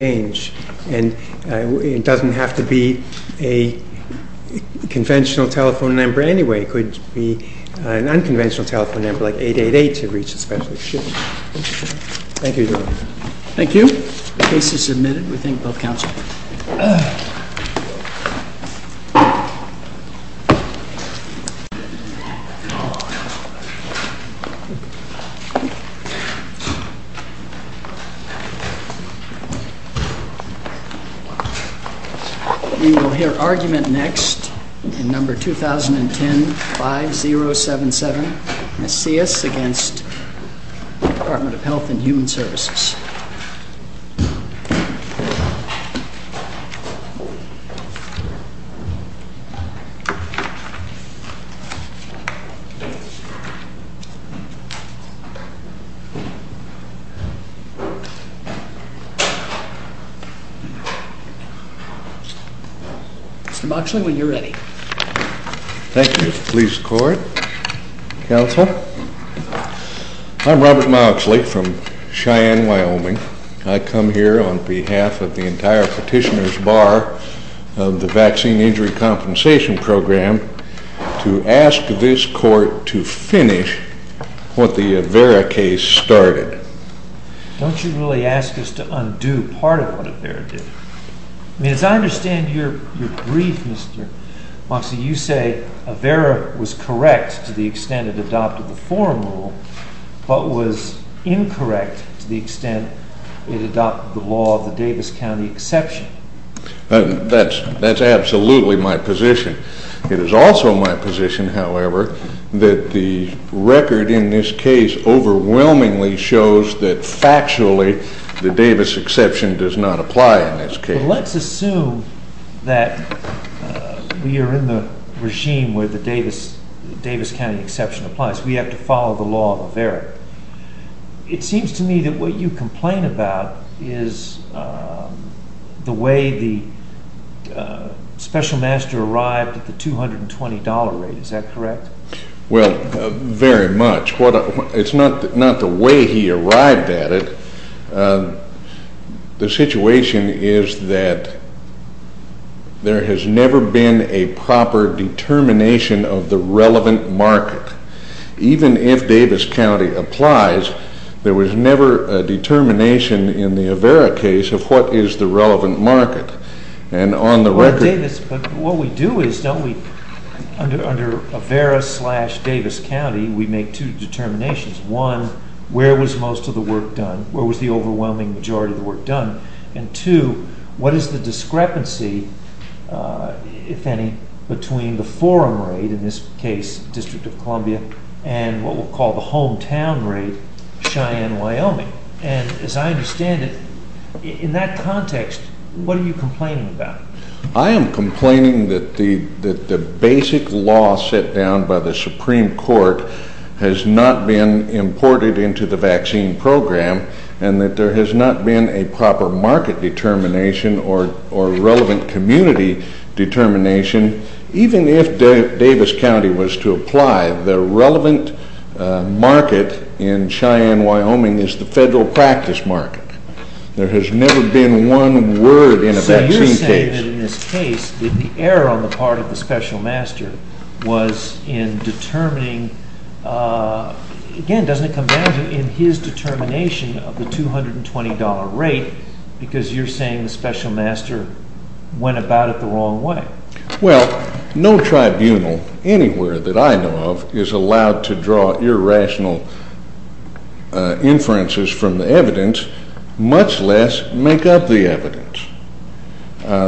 and it doesn't have to be a conventional telephone number anyway. It could be an unconventional telephone number like 888 to reach a specialist. Thank you. Thank you. The case is submitted. We thank both counsel. We will hear argument next in number 2010-5077, MACIAS v. Department of Health and Human Services. Mr. Moxley, when you're ready. Thank you. Please record. Counsel, I'm Robert Moxley from Cheyenne, Wyoming. I come here on behalf of the entire petitioner's bar of the Vaccine Injury Compensation Program to ask this I mean, as I understand your brief, Mr. Moxley, you say AVERA was correct to the extent it adopted the forum rule, but was incorrect to the extent it adopted the law of the Davis County exception. That's absolutely my position. It is also my position, Let's assume that we are in the regime where the Davis County exception applies. We have to follow the law of AVERA. It seems to me that what you complain about is the way the special master arrived at the $220 rate. Is that correct? Well, very much. It's not the way he arrived at it. The situation is that there has never been a proper determination of the relevant market. Even if Davis County applies, there was never a determination in the AVERA case of what is the relevant market. And on the record I say this, but what we do is, don't we, under AVERA slash Davis County, we make two determinations. One, where was most of the work done? Where was the overwhelming majority of the work done? And two, what is the discrepancy, if any, between the forum rate, in this case, District of Columbia, and what we'll call the hometown rate, Cheyenne, Wyoming? And as I understand it, in that context, what are you complaining that the basic law set down by the Supreme Court has not been imported into the vaccine program, and that there has not been a proper market determination or relevant community determination? Even if Davis County was to apply, the relevant market in Cheyenne, Wyoming, is the error on the part of the Special Master was in determining, again, doesn't it come down to, in his determination of the $220 rate, because you're saying the Special Master went about it the wrong way. Well, no tribunal anywhere that I know of is allowed to draw irrational inferences from the evidence, much less make up the evidence.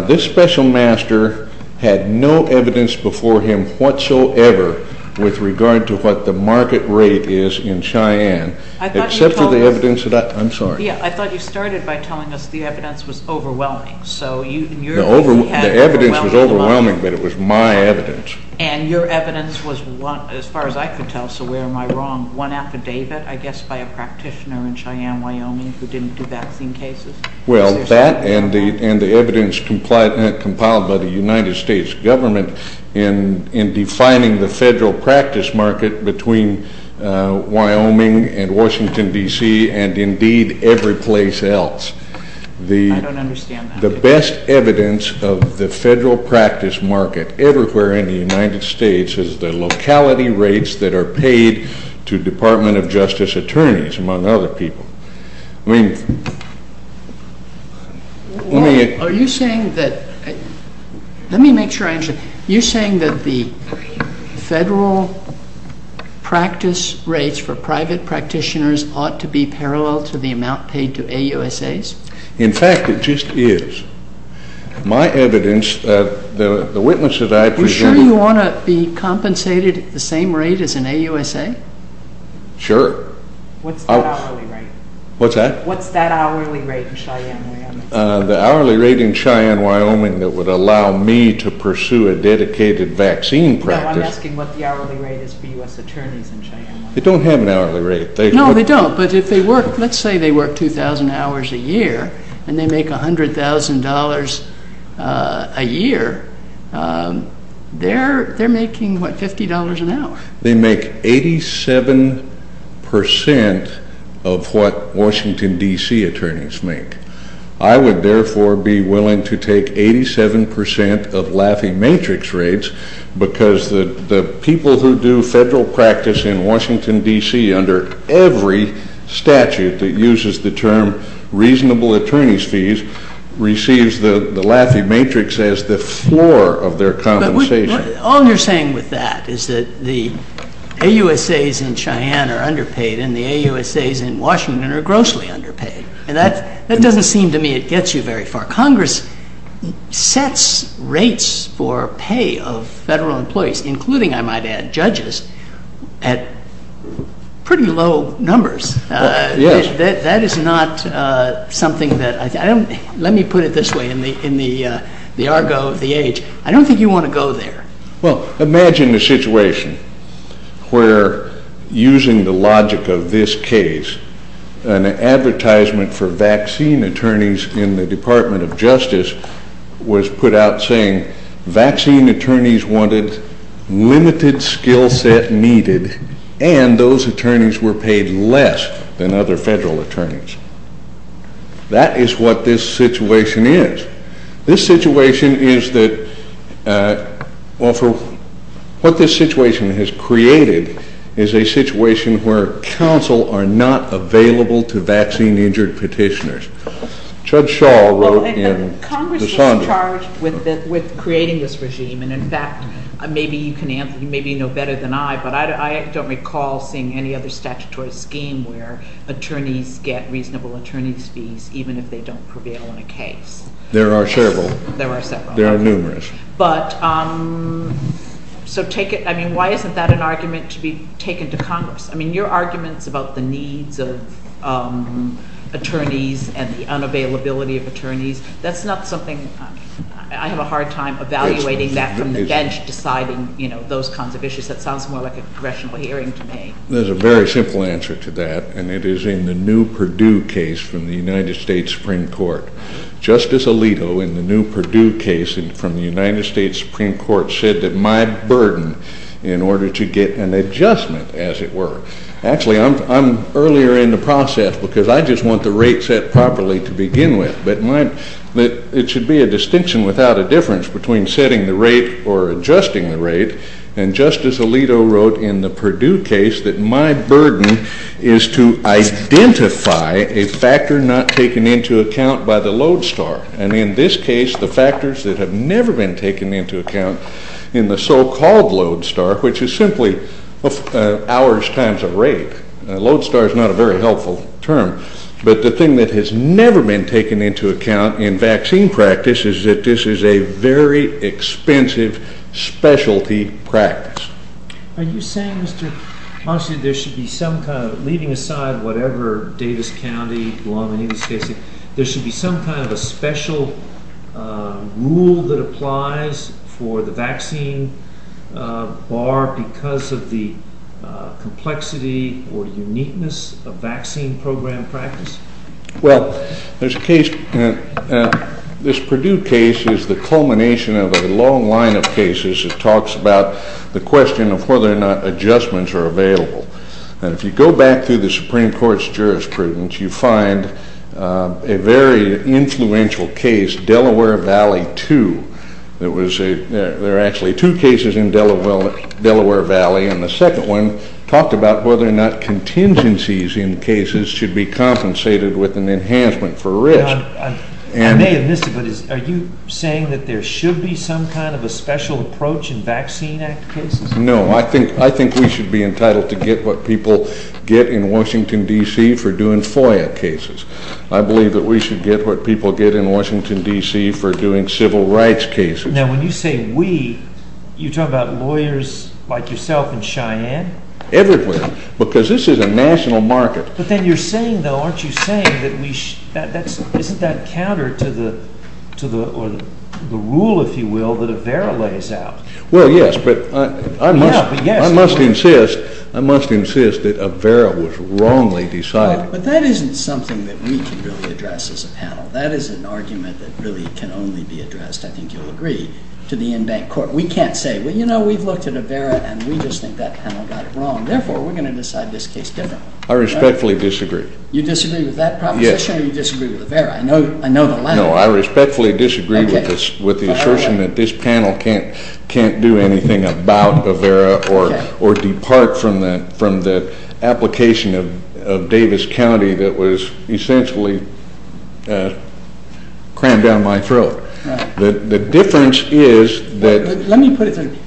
This Special Master had no evidence before him whatsoever with regard to what the market rate is in Cheyenne, except for the evidence that I, I'm sorry. Yeah, I thought you started by telling us the evidence was overwhelming. The evidence was overwhelming, but it was my evidence. And your evidence was, as far as I could tell, so where am I wrong, one affidavit, I guess, by a practitioner in Cheyenne, Wyoming, who didn't do vaccine cases? Well, that and the evidence compiled by the United States government in defining the federal practice market between Wyoming and Washington, D.C., and indeed, every place else. I don't understand that. The best evidence of the federal practice market everywhere in the United States is the locality rates that are paid to Department of Justice attorneys, among other people. I mean, let me... Are you saying that, let me make sure I understand, you're saying that the federal practice rates for private practitioners ought to be parallel to the amount paid to AUSAs? In fact, it just is. My evidence, the witnesses I presume... Are you sure you want to be compensated at the same rate as an AUSA? Sure. What's that hourly rate? What's that? What's that hourly rate in Cheyenne, Wyoming? The hourly rate in Cheyenne, Wyoming that would allow me to pursue a dedicated vaccine practice... No, I'm asking what the hourly rate is for U.S. attorneys in Cheyenne, Wyoming. They don't have an hourly rate. No, they don't. But if they work, let's say they work 2,000 hours a year, and they make $100,000 a year, they're making, what, $50 an hour. They make 87% of what Washington, D.C. attorneys make. I would therefore be willing to take 87% of Laffey Matrix rates because the people who do federal practice in Washington, D.C. under every statute that uses the term reasonable attorney's fees receives the Laffey Matrix as the floor of their compensation. All you're saying with that is that the AUSAs in Cheyenne are underpaid and the AUSAs in Washington are grossly underpaid. And that doesn't seem to me it gets you very far. Congress sets rates for pay of federal employees, including, I might add, judges, at pretty low numbers. Yes. That is not something that... Let me put it this way in the argo of the age. I don't think you want to go there. Well, imagine a situation where, using the logic of this case, an advertisement for vaccine attorneys in the Department of Justice was put out saying vaccine attorneys wanted limited skill set needed and those attorneys were paid less than other federal attorneys. That is what this situation is. This situation is that... What this situation has created is a situation where counsel are not available to vaccine injured petitioners. Judge Shaw wrote in... Congress was charged with creating this regime and, in fact, maybe you know better than I, but I don't recall seeing any other statutory scheme where attorneys get reasonable attorney's fees even if they don't prevail in a case. There are several. There are several. There are numerous. But, so take it... I mean, why isn't that an argument to be taken to Congress? I mean, your arguments about the needs of attorneys and the unavailability of attorneys, that's not something... I have a hard time evaluating that from the bench deciding those kinds of issues. That sounds more like a congressional hearing to me. There's a very simple answer to that and it is in the new Purdue case from the United States Supreme Court. Justice Alito, in the new Purdue case from the United States Supreme Court, said that my burden in order to get an adjustment, as it were... Actually, I'm earlier in the process because I just want the rate set properly to begin with. But it should be a distinction without a difference between setting the rate or adjusting the rate. And Justice Alito wrote in the Purdue case that my burden is to identify a factor not taken into account by the load star. And in this case, the factors that have never been taken into account in the so-called load star, which is simply hours times a rate. Load star is not a very helpful term. But the thing that has never been taken into account in vaccine practice is that this is a very expensive specialty practice. Are you saying, Mr. Monson, that there should be some kind of... Leaving aside whatever Davis County, Guam, any of these cases... There should be some kind of a special rule that applies for the vaccine bar because of the complexity or uniqueness of vaccine program practice? Well, there's a case... This Purdue case is the culmination of a long line of cases that talks about the question of whether or not adjustments are available. And if you go back through the Supreme Court's jurisprudence, you find a very influential case, Delaware Valley 2. There are actually two cases in Delaware Valley, and the second one talked about whether or not contingencies in cases should be compensated with an enhancement for risk. I may have missed it, but are you saying that there should be some kind of a special approach in Vaccine Act cases? No, I think we should be entitled to get what people get in Washington, D.C. for doing FOIA cases. I believe that we should get what people get in Washington, D.C. for doing civil rights cases. Now, when you say we, you're talking about lawyers like yourself in Cheyenne? Everywhere, because this is a national market. But then you're saying, though, aren't you saying that we should... Isn't that counter to the rule, if you will, that AVERA lays out? Well, yes, but I must insist that AVERA was wrongly decided. But that isn't something that we can really address as a panel. That is an argument that really can only be addressed, I think you'll agree, to the in-bank court. We can't say, well, you know, we've looked at AVERA and we just think that panel got it wrong. Therefore, we're going to decide this case differently. I respectfully disagree. You disagree with that proposition or you disagree with AVERA? I know the latter. No, I respectfully disagree with the assertion that this panel can't do anything about AVERA or depart from the application of Davis County that was essentially crammed down my throat. The difference is that... Let me put it this way.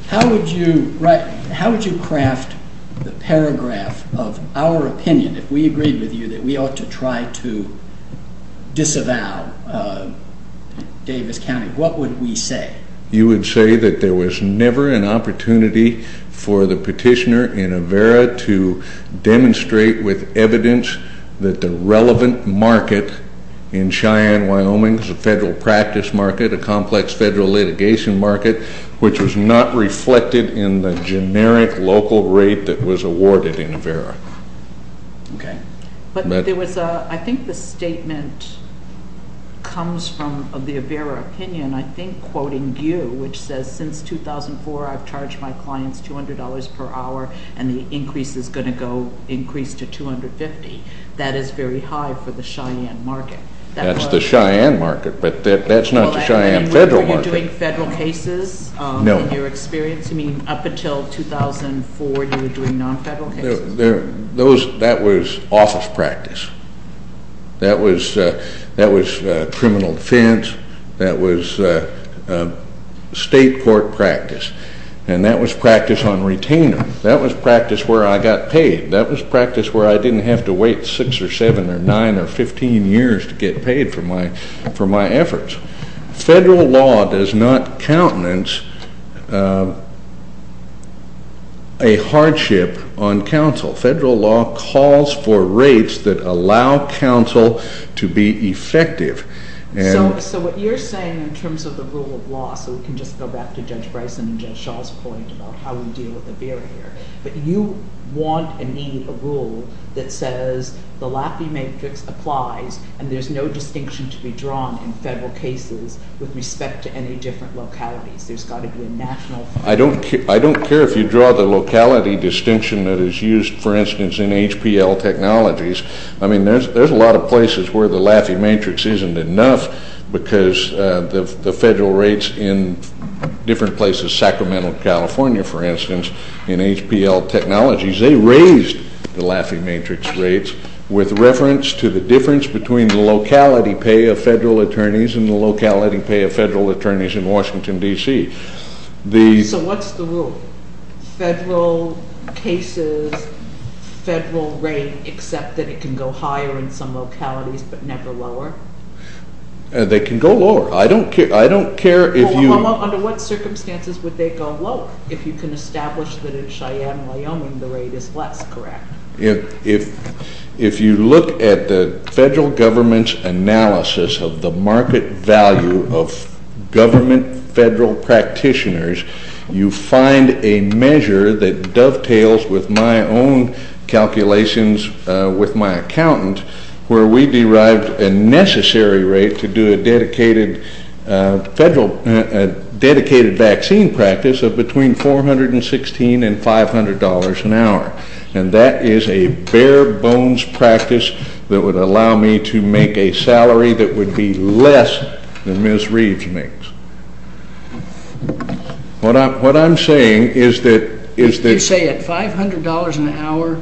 How would you craft the paragraph of our opinion if we agreed with you that we ought to try to disavow Davis County? What would we say? You would say that there was never an opportunity for the petitioner in AVERA to demonstrate with evidence that the relevant market in Cheyenne, Wyoming, the federal practice market, a complex federal litigation market, which was not reflected in the generic local rate that was awarded in AVERA. Okay. But I think the statement comes from the AVERA opinion, I think, quoting you, which says, since 2004, I've charged my clients $200 per hour and the increase is going to go, increase to $250. That is very high for the Cheyenne market. That's the Cheyenne market, but that's not the Cheyenne federal market. Were you doing federal cases? No. In your experience? I mean, up until 2004, you were doing non-federal cases. That was office practice. That was criminal defense. That was state court practice. And that was practice on retainer. That was practice where I got paid. That was practice where I didn't have to wait 6 or 7 or 9 or 15 years to get paid for my efforts. Federal law does not countenance a hardship on counsel. Federal law calls for rates that allow counsel to be effective. So what you're saying in terms of the rule of law, so we can just go back to Judge Bryson and Judge Shaw's point about how we deal with the barrier, but you want and need a rule that says the Laffey Matrix applies and there's no distinction to be drawn in federal cases with respect to any different localities. There's got to be a national. I don't care if you draw the locality distinction that is used, for instance, in HPL technologies. I mean, there's a lot of places where the Laffey Matrix isn't enough because the federal rates in different places, Sacramento, California, for instance, in HPL technologies, they raised the Laffey Matrix rates with reference to the difference between the locality pay of federal attorneys and the locality pay of federal attorneys in Washington, D.C. So what's the rule? Federal cases, federal rate, except that it can go higher in some localities but never lower? They can go lower. I don't care if you- Under what circumstances would they go lower? If you can establish that in Cheyenne, Wyoming, the rate is less, correct? If you look at the federal government's analysis of the market value of government federal practitioners, you find a measure that dovetails with my own calculations with my accountant where we derived a necessary rate to do a dedicated vaccine practice of between $416 and $500 an hour. And that is a bare-bones practice that would allow me to make a salary that would be less than Ms. Reeves makes. What I'm saying is that- You say at $500 an hour,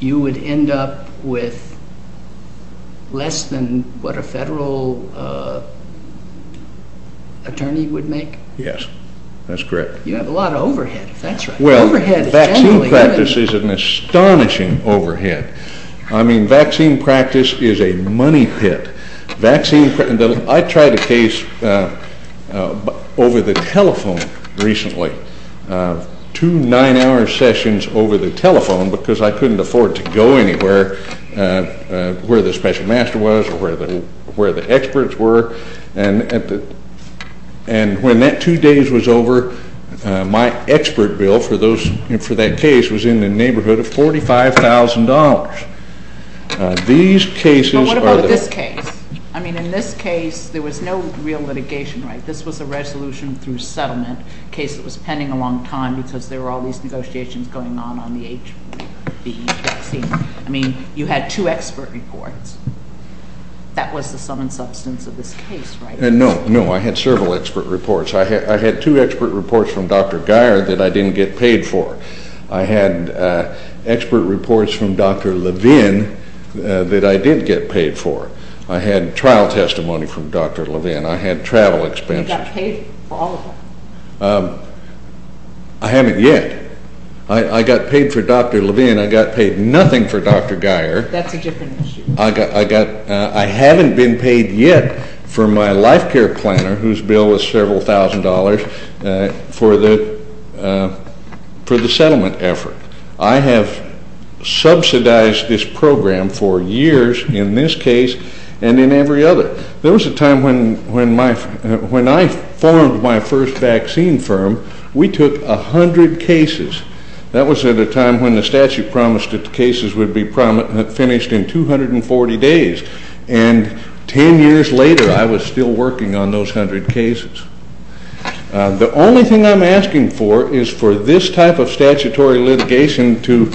you would end up with less than what a federal attorney would make? Yes, that's correct. You have a lot of overhead, if that's right. Well, vaccine practice is an astonishing overhead. I mean, vaccine practice is a money pit. I tried a case over the telephone recently, two nine-hour sessions over the telephone because I couldn't afford to go anywhere where the special master was or where the experts were. And when that two days was over, my expert bill for that case was in the neighborhood of $45,000. These cases are- But what about this case? I mean, in this case, there was no real litigation, right? This was a resolution through settlement, a case that was pending a long time because there were all these negotiations going on on the H1B vaccine. I mean, you had two expert reports. That was the sum and substance of this case, right? No, no, I had several expert reports. I had two expert reports from Dr. Geier that I didn't get paid for. I had expert reports from Dr. Levine that I did get paid for. I had trial testimony from Dr. Levine. I had travel expenses. You got paid for all of them? I haven't yet. I got paid for Dr. Levine. I got paid nothing for Dr. Geier. That's a different issue. I haven't been paid yet for my life care planner, whose bill was several thousand dollars, for the settlement effort. I have subsidized this program for years in this case and in every other. There was a time when I formed my first vaccine firm. We took 100 cases. That was at a time when the statute promised that the cases would be finished in 240 days. And 10 years later, I was still working on those 100 cases. The only thing I'm asking for is for this type of statutory litigation to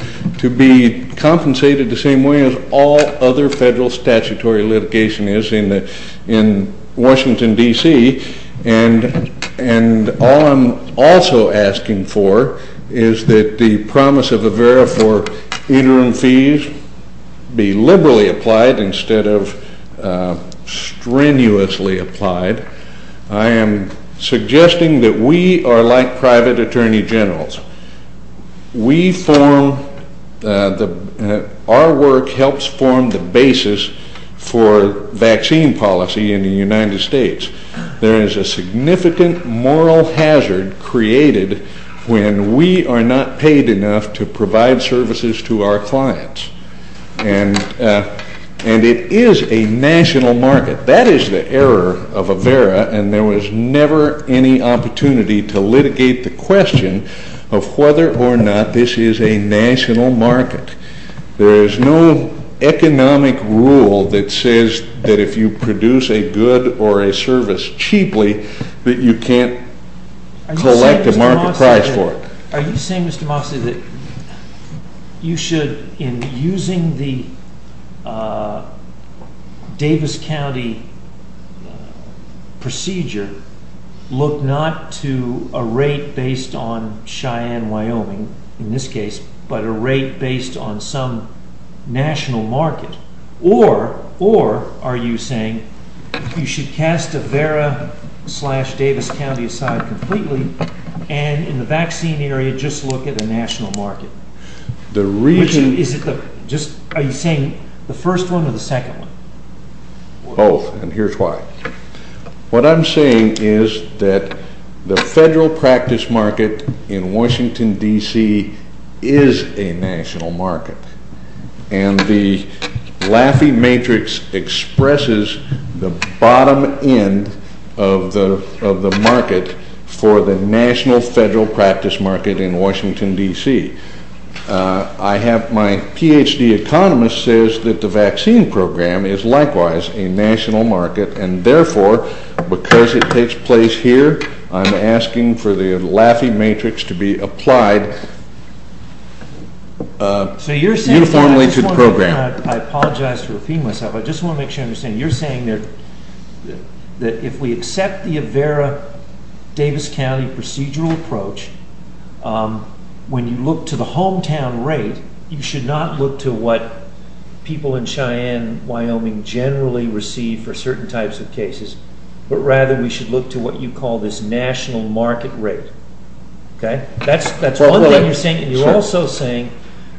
be compensated the same way as all other federal statutory litigation is in Washington, D.C. And all I'm also asking for is that the promise of a vera for interim fees be liberally applied instead of strenuously applied. I am suggesting that we are like private attorney generals. Our work helps form the basis for vaccine policy in the United States. There is a significant moral hazard created when we are not paid enough to provide services to our clients. And it is a national market. That is the error of a vera, and there was never any opportunity to litigate the question of whether or not this is a national market. There is no economic rule that says that if you produce a good or a service cheaply, that you can't collect a market price for it. Are you saying, Mr. Mosse, that you should, in using the Davis County procedure, look not to a rate based on Cheyenne, Wyoming, in this case, but a rate based on some national market? Or are you saying you should cast a vera slash Davis County aside completely and in the vaccine area just look at a national market? Are you saying the first one or the second one? Both, and here's why. What I'm saying is that the federal practice market in Washington, D.C. is a national market. And the Laffey Matrix expresses the bottom end of the market for the national federal practice market in Washington, D.C. My Ph.D. economist says that the vaccine program is likewise a national market, and therefore, because it takes place here, I'm asking for the Laffey Matrix to be applied. Uniformly to the program. I apologize for offending myself. I just want to make sure I understand. You're saying that if we accept the vera Davis County procedural approach, when you look to the hometown rate, you should not look to what people in Cheyenne, Wyoming, generally receive for certain types of cases, but rather we should look to what you call this national market rate. That's one thing you're saying, and you're also saying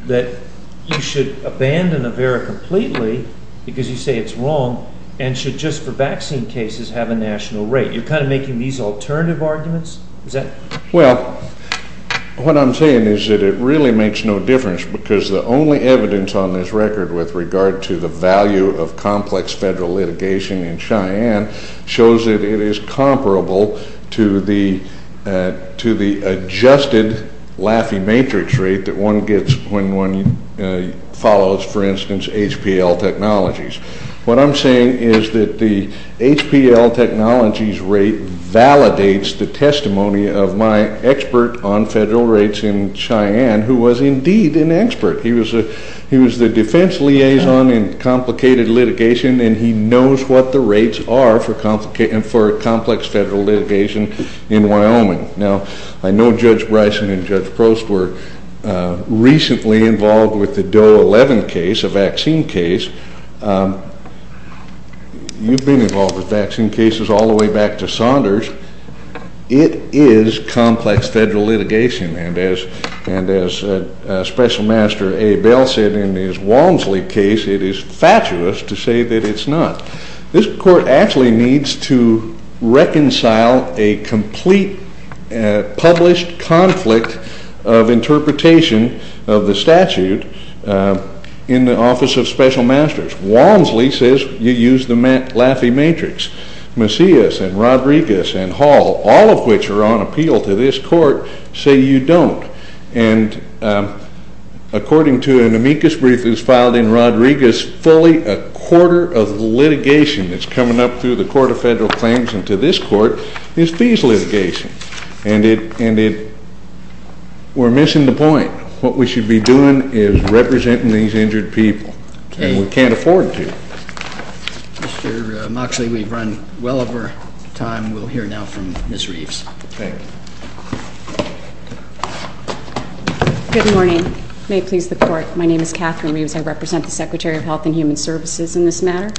that you should abandon a vera completely because you say it's wrong, and should just for vaccine cases have a national rate. You're kind of making these alternative arguments? Well, what I'm saying is that it really makes no difference because the only evidence on this record with regard to the value of complex federal litigation in Cheyenne shows that it is comparable to the adjusted Laffey Matrix rate that one gets when one follows, for instance, HPL technologies. What I'm saying is that the HPL technologies rate validates the testimony of my expert on federal rates in Cheyenne, who was indeed an expert. He was the defense liaison in complicated litigation, and he knows what the rates are for complex federal litigation in Wyoming. Now, I know Judge Bryson and Judge Prost were recently involved with the Doe 11 case, a vaccine case. You've been involved with vaccine cases all the way back to Saunders. It is complex federal litigation, and as Special Master A. Bell said in his Walmsley case, it is fatuous to say that it's not. This court actually needs to reconcile a complete published conflict of interpretation of the statute in the Office of Special Masters. Walmsley says you use the Laffey Matrix. Macias and Rodriguez and Hall, all of which are on appeal to this court, say you don't. And according to an amicus brief that was filed in Rodriguez, fully a quarter of litigation that's coming up through the Court of Federal Claims and to this court is fees litigation. And we're missing the point. What we should be doing is representing these injured people, and we can't afford to. Mr. Moxley, we've run well over time. We'll hear now from Ms. Reeves. Thank you. Good morning. May it please the Court, my name is Catherine Reeves. I represent the Secretary of Health and Human Services in this matter.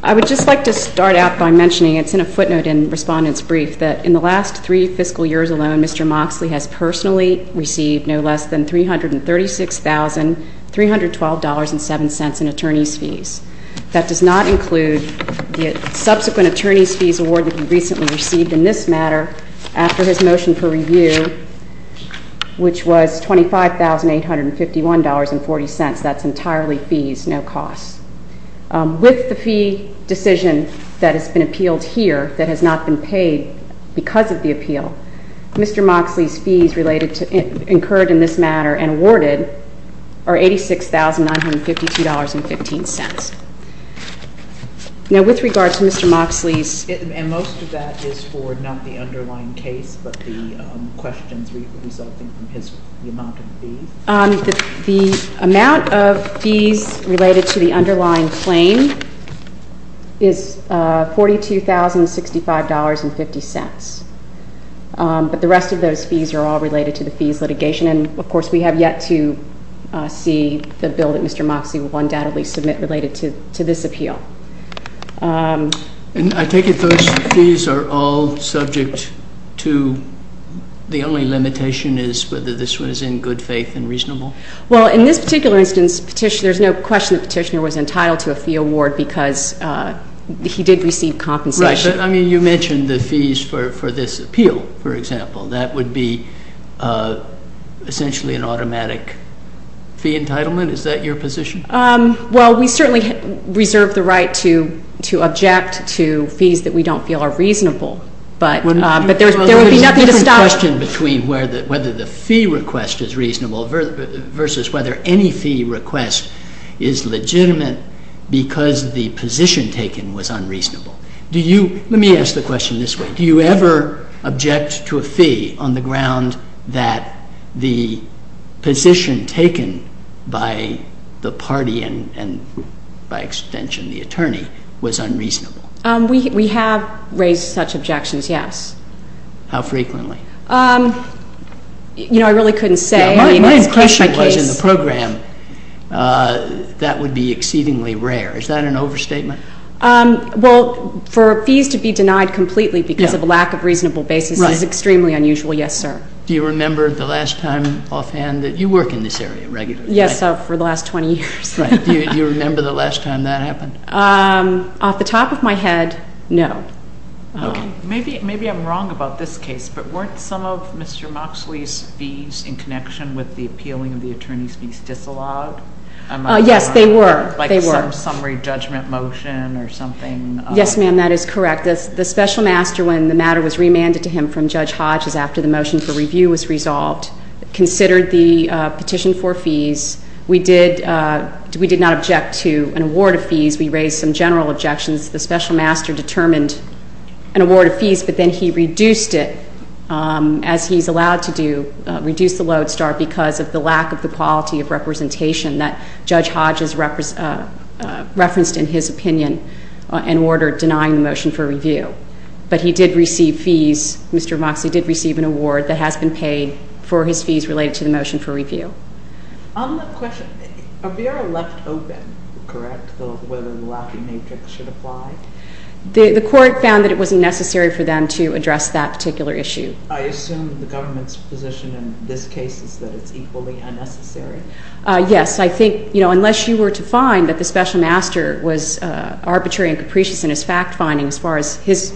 I would just like to start out by mentioning, it's in a footnote in Respondent's brief, that in the last three fiscal years alone, Mr. Moxley has personally received no less than $336,312.07 in attorney's fees. That does not include the subsequent attorney's fees award that he recently received in this matter after his motion for review, which was $25,851.40. That's entirely fees, no costs. With the fee decision that has been appealed here that has not been paid because of the appeal, Mr. Moxley's fees incurred in this matter and awarded are $86,952.15. Now, with regard to Mr. Moxley's... And most of that is for not the underlying case, but the questions resulting from his amount of fees? The amount of fees related to the underlying claim is $42,065.50. But the rest of those fees are all related to the fees litigation. And, of course, we have yet to see the bill that Mr. Moxley will undoubtedly submit related to this appeal. And I take it those fees are all subject to the only limitation is whether this one is in good faith and reasonable? Well, in this particular instance, there's no question the petitioner was entitled to a fee award because he did receive compensation. Right. But, I mean, you mentioned the fees for this appeal, for example. That would be essentially an automatic fee entitlement? Is that your position? Well, we certainly reserve the right to object to fees that we don't feel are reasonable. But there would be nothing to stop... There's a question between whether the fee request is reasonable versus whether any fee request is legitimate because the position taken was unreasonable. Do you... Let me ask the question this way. Do you ever object to a fee on the ground that the position taken by the party and, by extension, the attorney, was unreasonable? We have raised such objections, yes. How frequently? You know, I really couldn't say. My impression was in the program that would be exceedingly rare. Is that an overstatement? Well, for fees to be denied completely because of a lack of reasonable basis is extremely unusual, yes, sir. Do you remember the last time offhand that... You work in this area regularly, right? Yes, sir, for the last 20 years. Right. Do you remember the last time that happened? Off the top of my head, no. Okay. Maybe I'm wrong about this case, but weren't some of Mr. Moxley's fees in connection with the appealing of the attorney's fees disallowed? Yes, they were. Like some summary judgment motion or something? Yes, ma'am, that is correct. The special master, when the matter was remanded to him from Judge Hodges after the motion for review was resolved, considered the petition for fees. We did not object to an award of fees. We raised some general objections. The special master determined an award of fees, but then he reduced it, as he's allowed to do, reduced the lodestar because of the lack of the quality of representation that Judge Hodges referenced in his opinion and ordered denying the motion for review. But he did receive fees. Mr. Moxley did receive an award that has been paid for his fees related to the motion for review. On the question, are we ever left open, correct, whether the Lackey Matrix should apply? The court found that it wasn't necessary for them to address that particular issue. I assume the government's position in this case is that it's equally unnecessary? Yes. I think, you know, unless you were to find that the special master was arbitrary and capricious in his fact-finding as far as his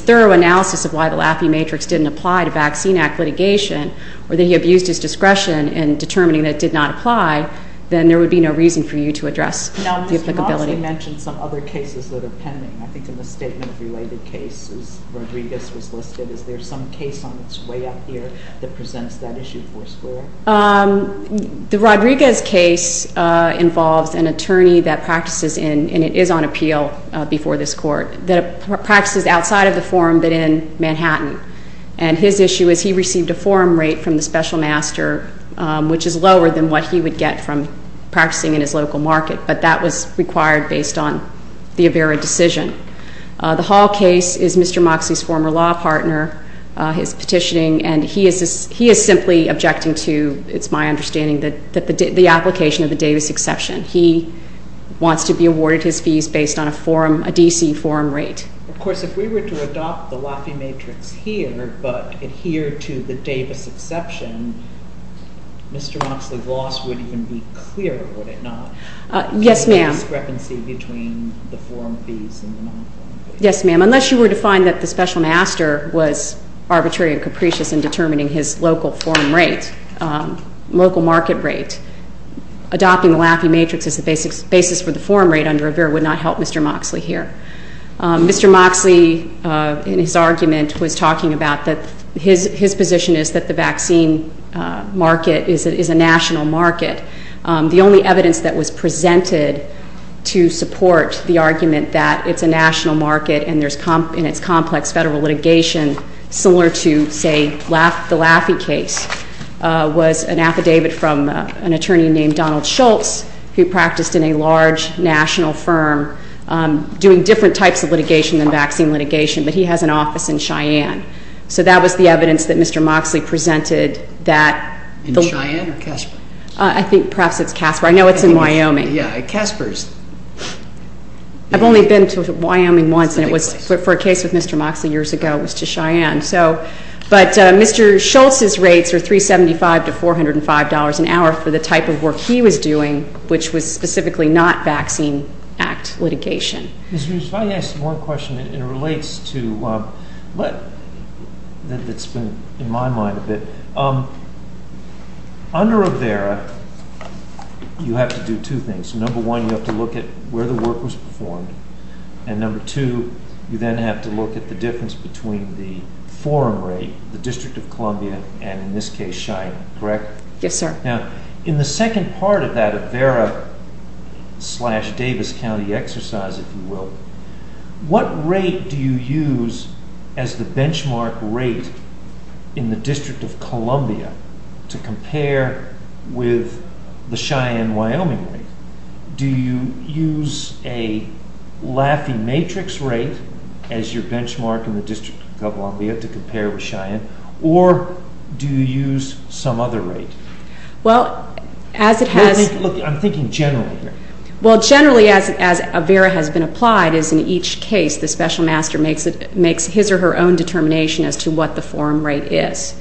thorough analysis of why the Lackey Matrix didn't apply to Vaccine Act litigation or that he abused his discretion in determining that it did not apply, then there would be no reason for you to address the applicability. Now, Mr. Moxley mentioned some other cases that are pending. I think in the statement of related cases, Rodriguez was listed. Is there some case on its way up here that presents that issue for square? The Rodriguez case involves an attorney that practices in, and it is on appeal before this court, that practices outside of the forum but in Manhattan. And his issue is he received a forum rate from the special master, which is lower than what he would get from practicing in his local market, but that was required based on the Avera decision. The Hall case is Mr. Moxley's former law partner, his petitioning, and he is simply objecting to, it's my understanding, the application of the Davis exception. He wants to be awarded his fees based on a forum, a D.C. forum rate. Of course, if we were to adopt the Lackey Matrix here but adhere to the Davis exception, Mr. Moxley's loss would even be clear, would it not? Yes, ma'am. The discrepancy between the forum fees and the non-forum fees. Yes, ma'am, unless you were to find that the special master was arbitrary and capricious in determining his local forum rate, local market rate, adopting the Lackey Matrix as the basis for the forum rate under Avera would not help Mr. Moxley here. Mr. Moxley, in his argument, was talking about that his position is that the vaccine market is a national market. The only evidence that was presented to support the argument that it's a national market and there's, in its complex federal litigation, similar to, say, the Lackey case, was an affidavit from an attorney named Donald Schultz who practiced in a large national firm doing different types of litigation than vaccine litigation, but he has an office in Cheyenne. So that was the evidence that Mr. Moxley presented that the- In Cheyenne or Casper? I think perhaps it's Casper. I know it's in Wyoming. Yeah, Casper is- I've only been to Wyoming once, and it was for a case with Mr. Moxley years ago. It was to Cheyenne. But Mr. Schultz's rates are $375 to $405 an hour for the type of work he was doing, which was specifically not vaccine act litigation. If I could ask one question that relates to- that's been in my mind a bit. Under Avera, you have to do two things. Number one, you have to look at where the work was performed, and number two, you then have to look at the difference between the forum rate, the District of Columbia, and in this case, Cheyenne, correct? Yes, sir. Now, in the second part of that Avera slash Davis County exercise, if you will, what rate do you use as the benchmark rate in the District of Columbia to compare with the Cheyenne-Wyoming rate? Do you use a Laffey matrix rate as your benchmark in the District of Columbia to compare with Cheyenne, or do you use some other rate? Well, as it has- Look, I'm thinking generally here. Well, generally, as Avera has been applied, is in each case the special master makes his or her own determination as to what the forum rate is.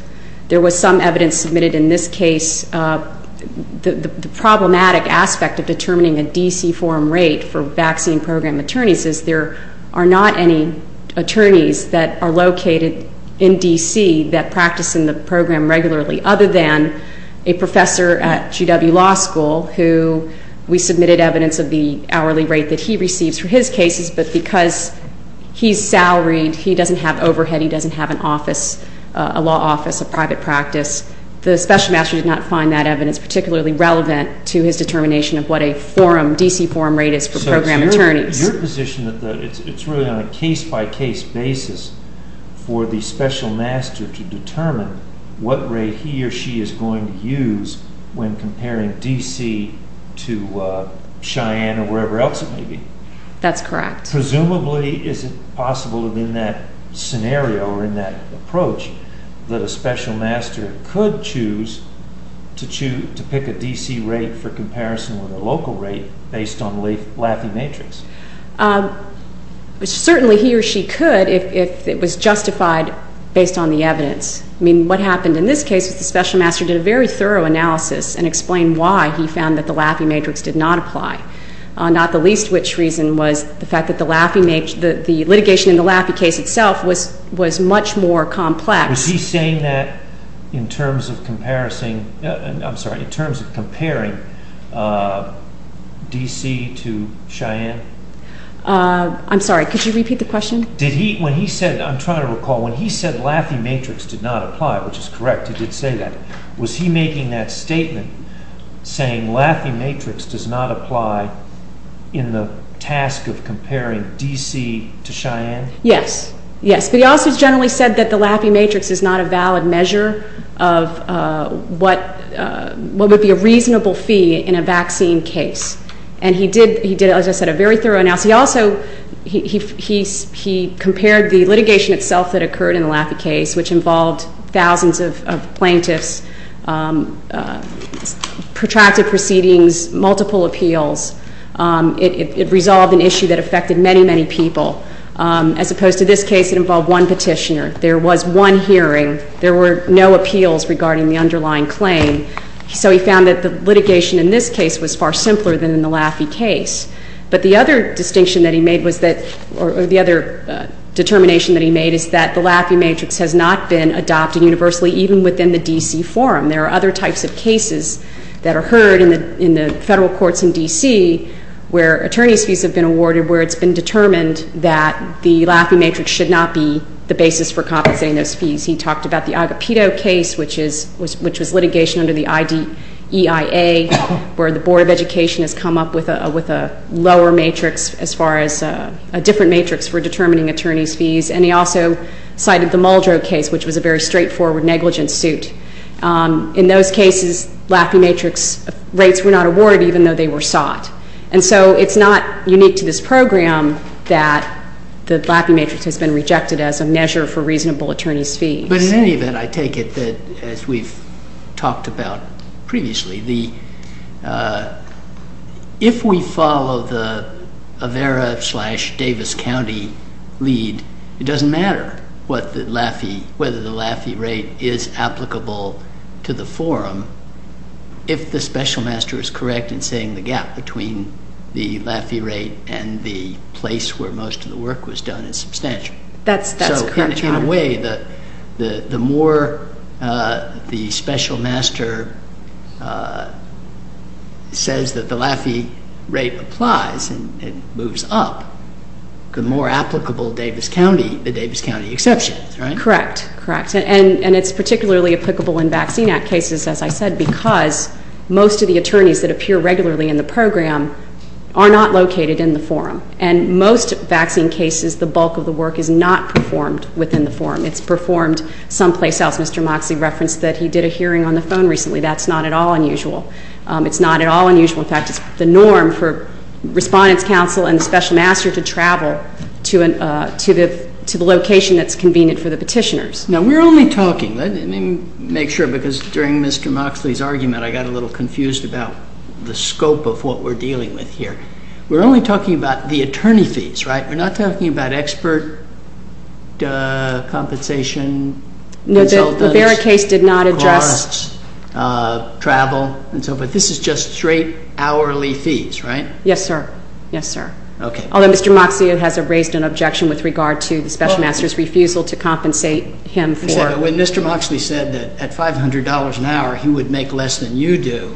There was some evidence submitted in this case. The problematic aspect of determining a D.C. forum rate for vaccine program attorneys is there are not any attorneys that are located in D.C. that practice in the program regularly other than a professor at GW Law School who we submitted evidence of the hourly rate that he receives for his cases, but because he's salaried, he doesn't have overhead, he doesn't have an office, a law office, a private practice, the special master did not find that evidence particularly relevant to his determination of what a forum, D.C. forum rate is for program attorneys. Your position is that it's really on a case-by-case basis for the special master to determine what rate he or she is going to use when comparing D.C. to Cheyenne or wherever else it may be. That's correct. Presumably, is it possible that in that scenario or in that approach that a special master could choose to pick a D.C. rate for comparison with a local rate based on the Laffey matrix? Certainly, he or she could if it was justified based on the evidence. I mean, what happened in this case was the special master did a very thorough analysis and explained why he found that the Laffey matrix did not apply, not the least of which reason was the fact that the litigation in the Laffey case itself was much more complex. Was he saying that in terms of comparing D.C. to Cheyenne? I'm sorry, could you repeat the question? I'm trying to recall. When he said Laffey matrix did not apply, which is correct, he did say that. Was he making that statement saying Laffey matrix does not apply Yes, yes, but he also generally said that the Laffey matrix is not a valid measure of what would be a reasonable fee in a vaccine case. And he did, as I said, a very thorough analysis. He also compared the litigation itself that occurred in the Laffey case, which involved thousands of plaintiffs, protracted proceedings, multiple appeals. It resolved an issue that affected many, many people. As opposed to this case, it involved one petitioner. There was one hearing. There were no appeals regarding the underlying claim. So he found that the litigation in this case was far simpler than in the Laffey case. But the other distinction that he made was that, or the other determination that he made, is that the Laffey matrix has not been adopted universally even within the D.C. forum. There are other types of cases that are heard in the federal courts in D.C. where attorney's fees have been awarded where it's been determined that the Laffey matrix should not be the basis for compensating those fees. He talked about the Agapito case, which was litigation under the EIA, where the Board of Education has come up with a lower matrix as far as a different matrix for determining attorney's fees. And he also cited the Muldrow case, which was a very straightforward negligence suit. In those cases, Laffey matrix rates were not awarded even though they were sought. And so it's not unique to this program that the Laffey matrix has been rejected as a measure for reasonable attorney's fees. But in any event, I take it that, as we've talked about previously, if we follow the Avera slash Davis County lead, it doesn't matter whether the Laffey rate is applicable to the forum if the special master is correct in saying the gap between the Laffey rate and the place where most of the work was done is substantial. So in a way, the more the special master says that the Laffey rate applies and it moves up, the more applicable the Davis County exception, right? Correct, correct. And it's particularly applicable in Vaccine Act cases, as I said, because most of the attorneys that appear regularly in the program are not located in the forum. And most vaccine cases, the bulk of the work is not performed within the forum. It's performed someplace else. Mr. Moxley referenced that he did a hearing on the phone recently. That's not at all unusual. It's not at all unusual. In fact, it's the norm for Respondents Council and the special master to travel to the location that's convenient for the petitioners. Now, we're only talking. Let me make sure, because during Mr. Moxley's argument, I got a little confused about the scope of what we're dealing with here. We're only talking about the attorney fees, right? We're not talking about expert compensation consultants, cars, travel, and so forth. This is just straight hourly fees, right? Yes, sir. Yes, sir. Okay. Although Mr. Moxley has raised an objection with regard to the special master's refusal to compensate him for. When Mr. Moxley said that at $500 an hour, he would make less than you do.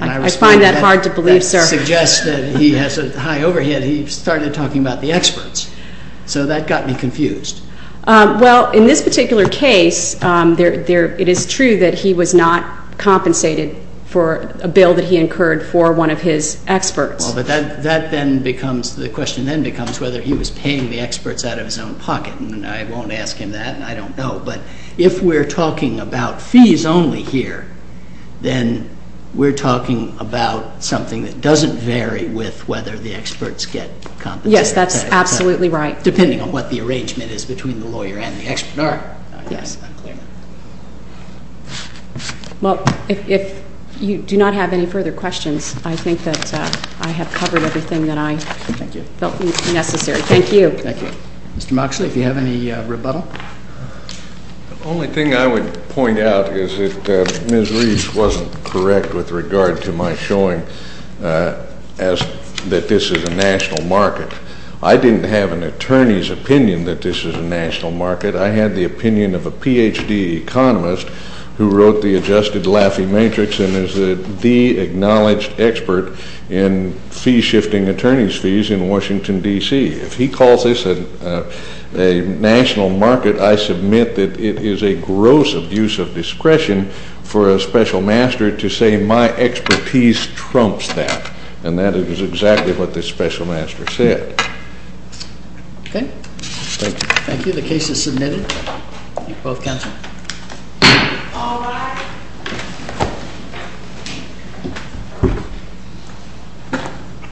I find that hard to believe, sir. When you suggest that he has a high overhead, he started talking about the experts. So that got me confused. Well, in this particular case, it is true that he was not compensated for a bill that he incurred for one of his experts. Well, but that then becomes, the question then becomes whether he was paying the experts out of his own pocket. And I won't ask him that, and I don't know. But if we're talking about fees only here, then we're talking about something that doesn't vary with whether the experts get compensated. Yes, that's absolutely right. Depending on what the arrangement is between the lawyer and the expert. All right. Yes. Well, if you do not have any further questions, I think that I have covered everything that I felt necessary. Thank you. Thank you. Mr. Moxley, if you have any rebuttal. The only thing I would point out is that Ms. Reese wasn't correct with regard to my showing that this is a national market. I didn't have an attorney's opinion that this is a national market. I had the opinion of a Ph.D. economist who wrote the Adjusted Laffey Matrix and is the acknowledged expert in fee-shifting attorney's fees in Washington, D.C. If he calls this a national market, I submit that it is a gross abuse of discretion for a special master to say my expertise trumps that. And that is exactly what this special master said. Okay. Thank you. Thank you. The case is submitted. Both counsel. All rise.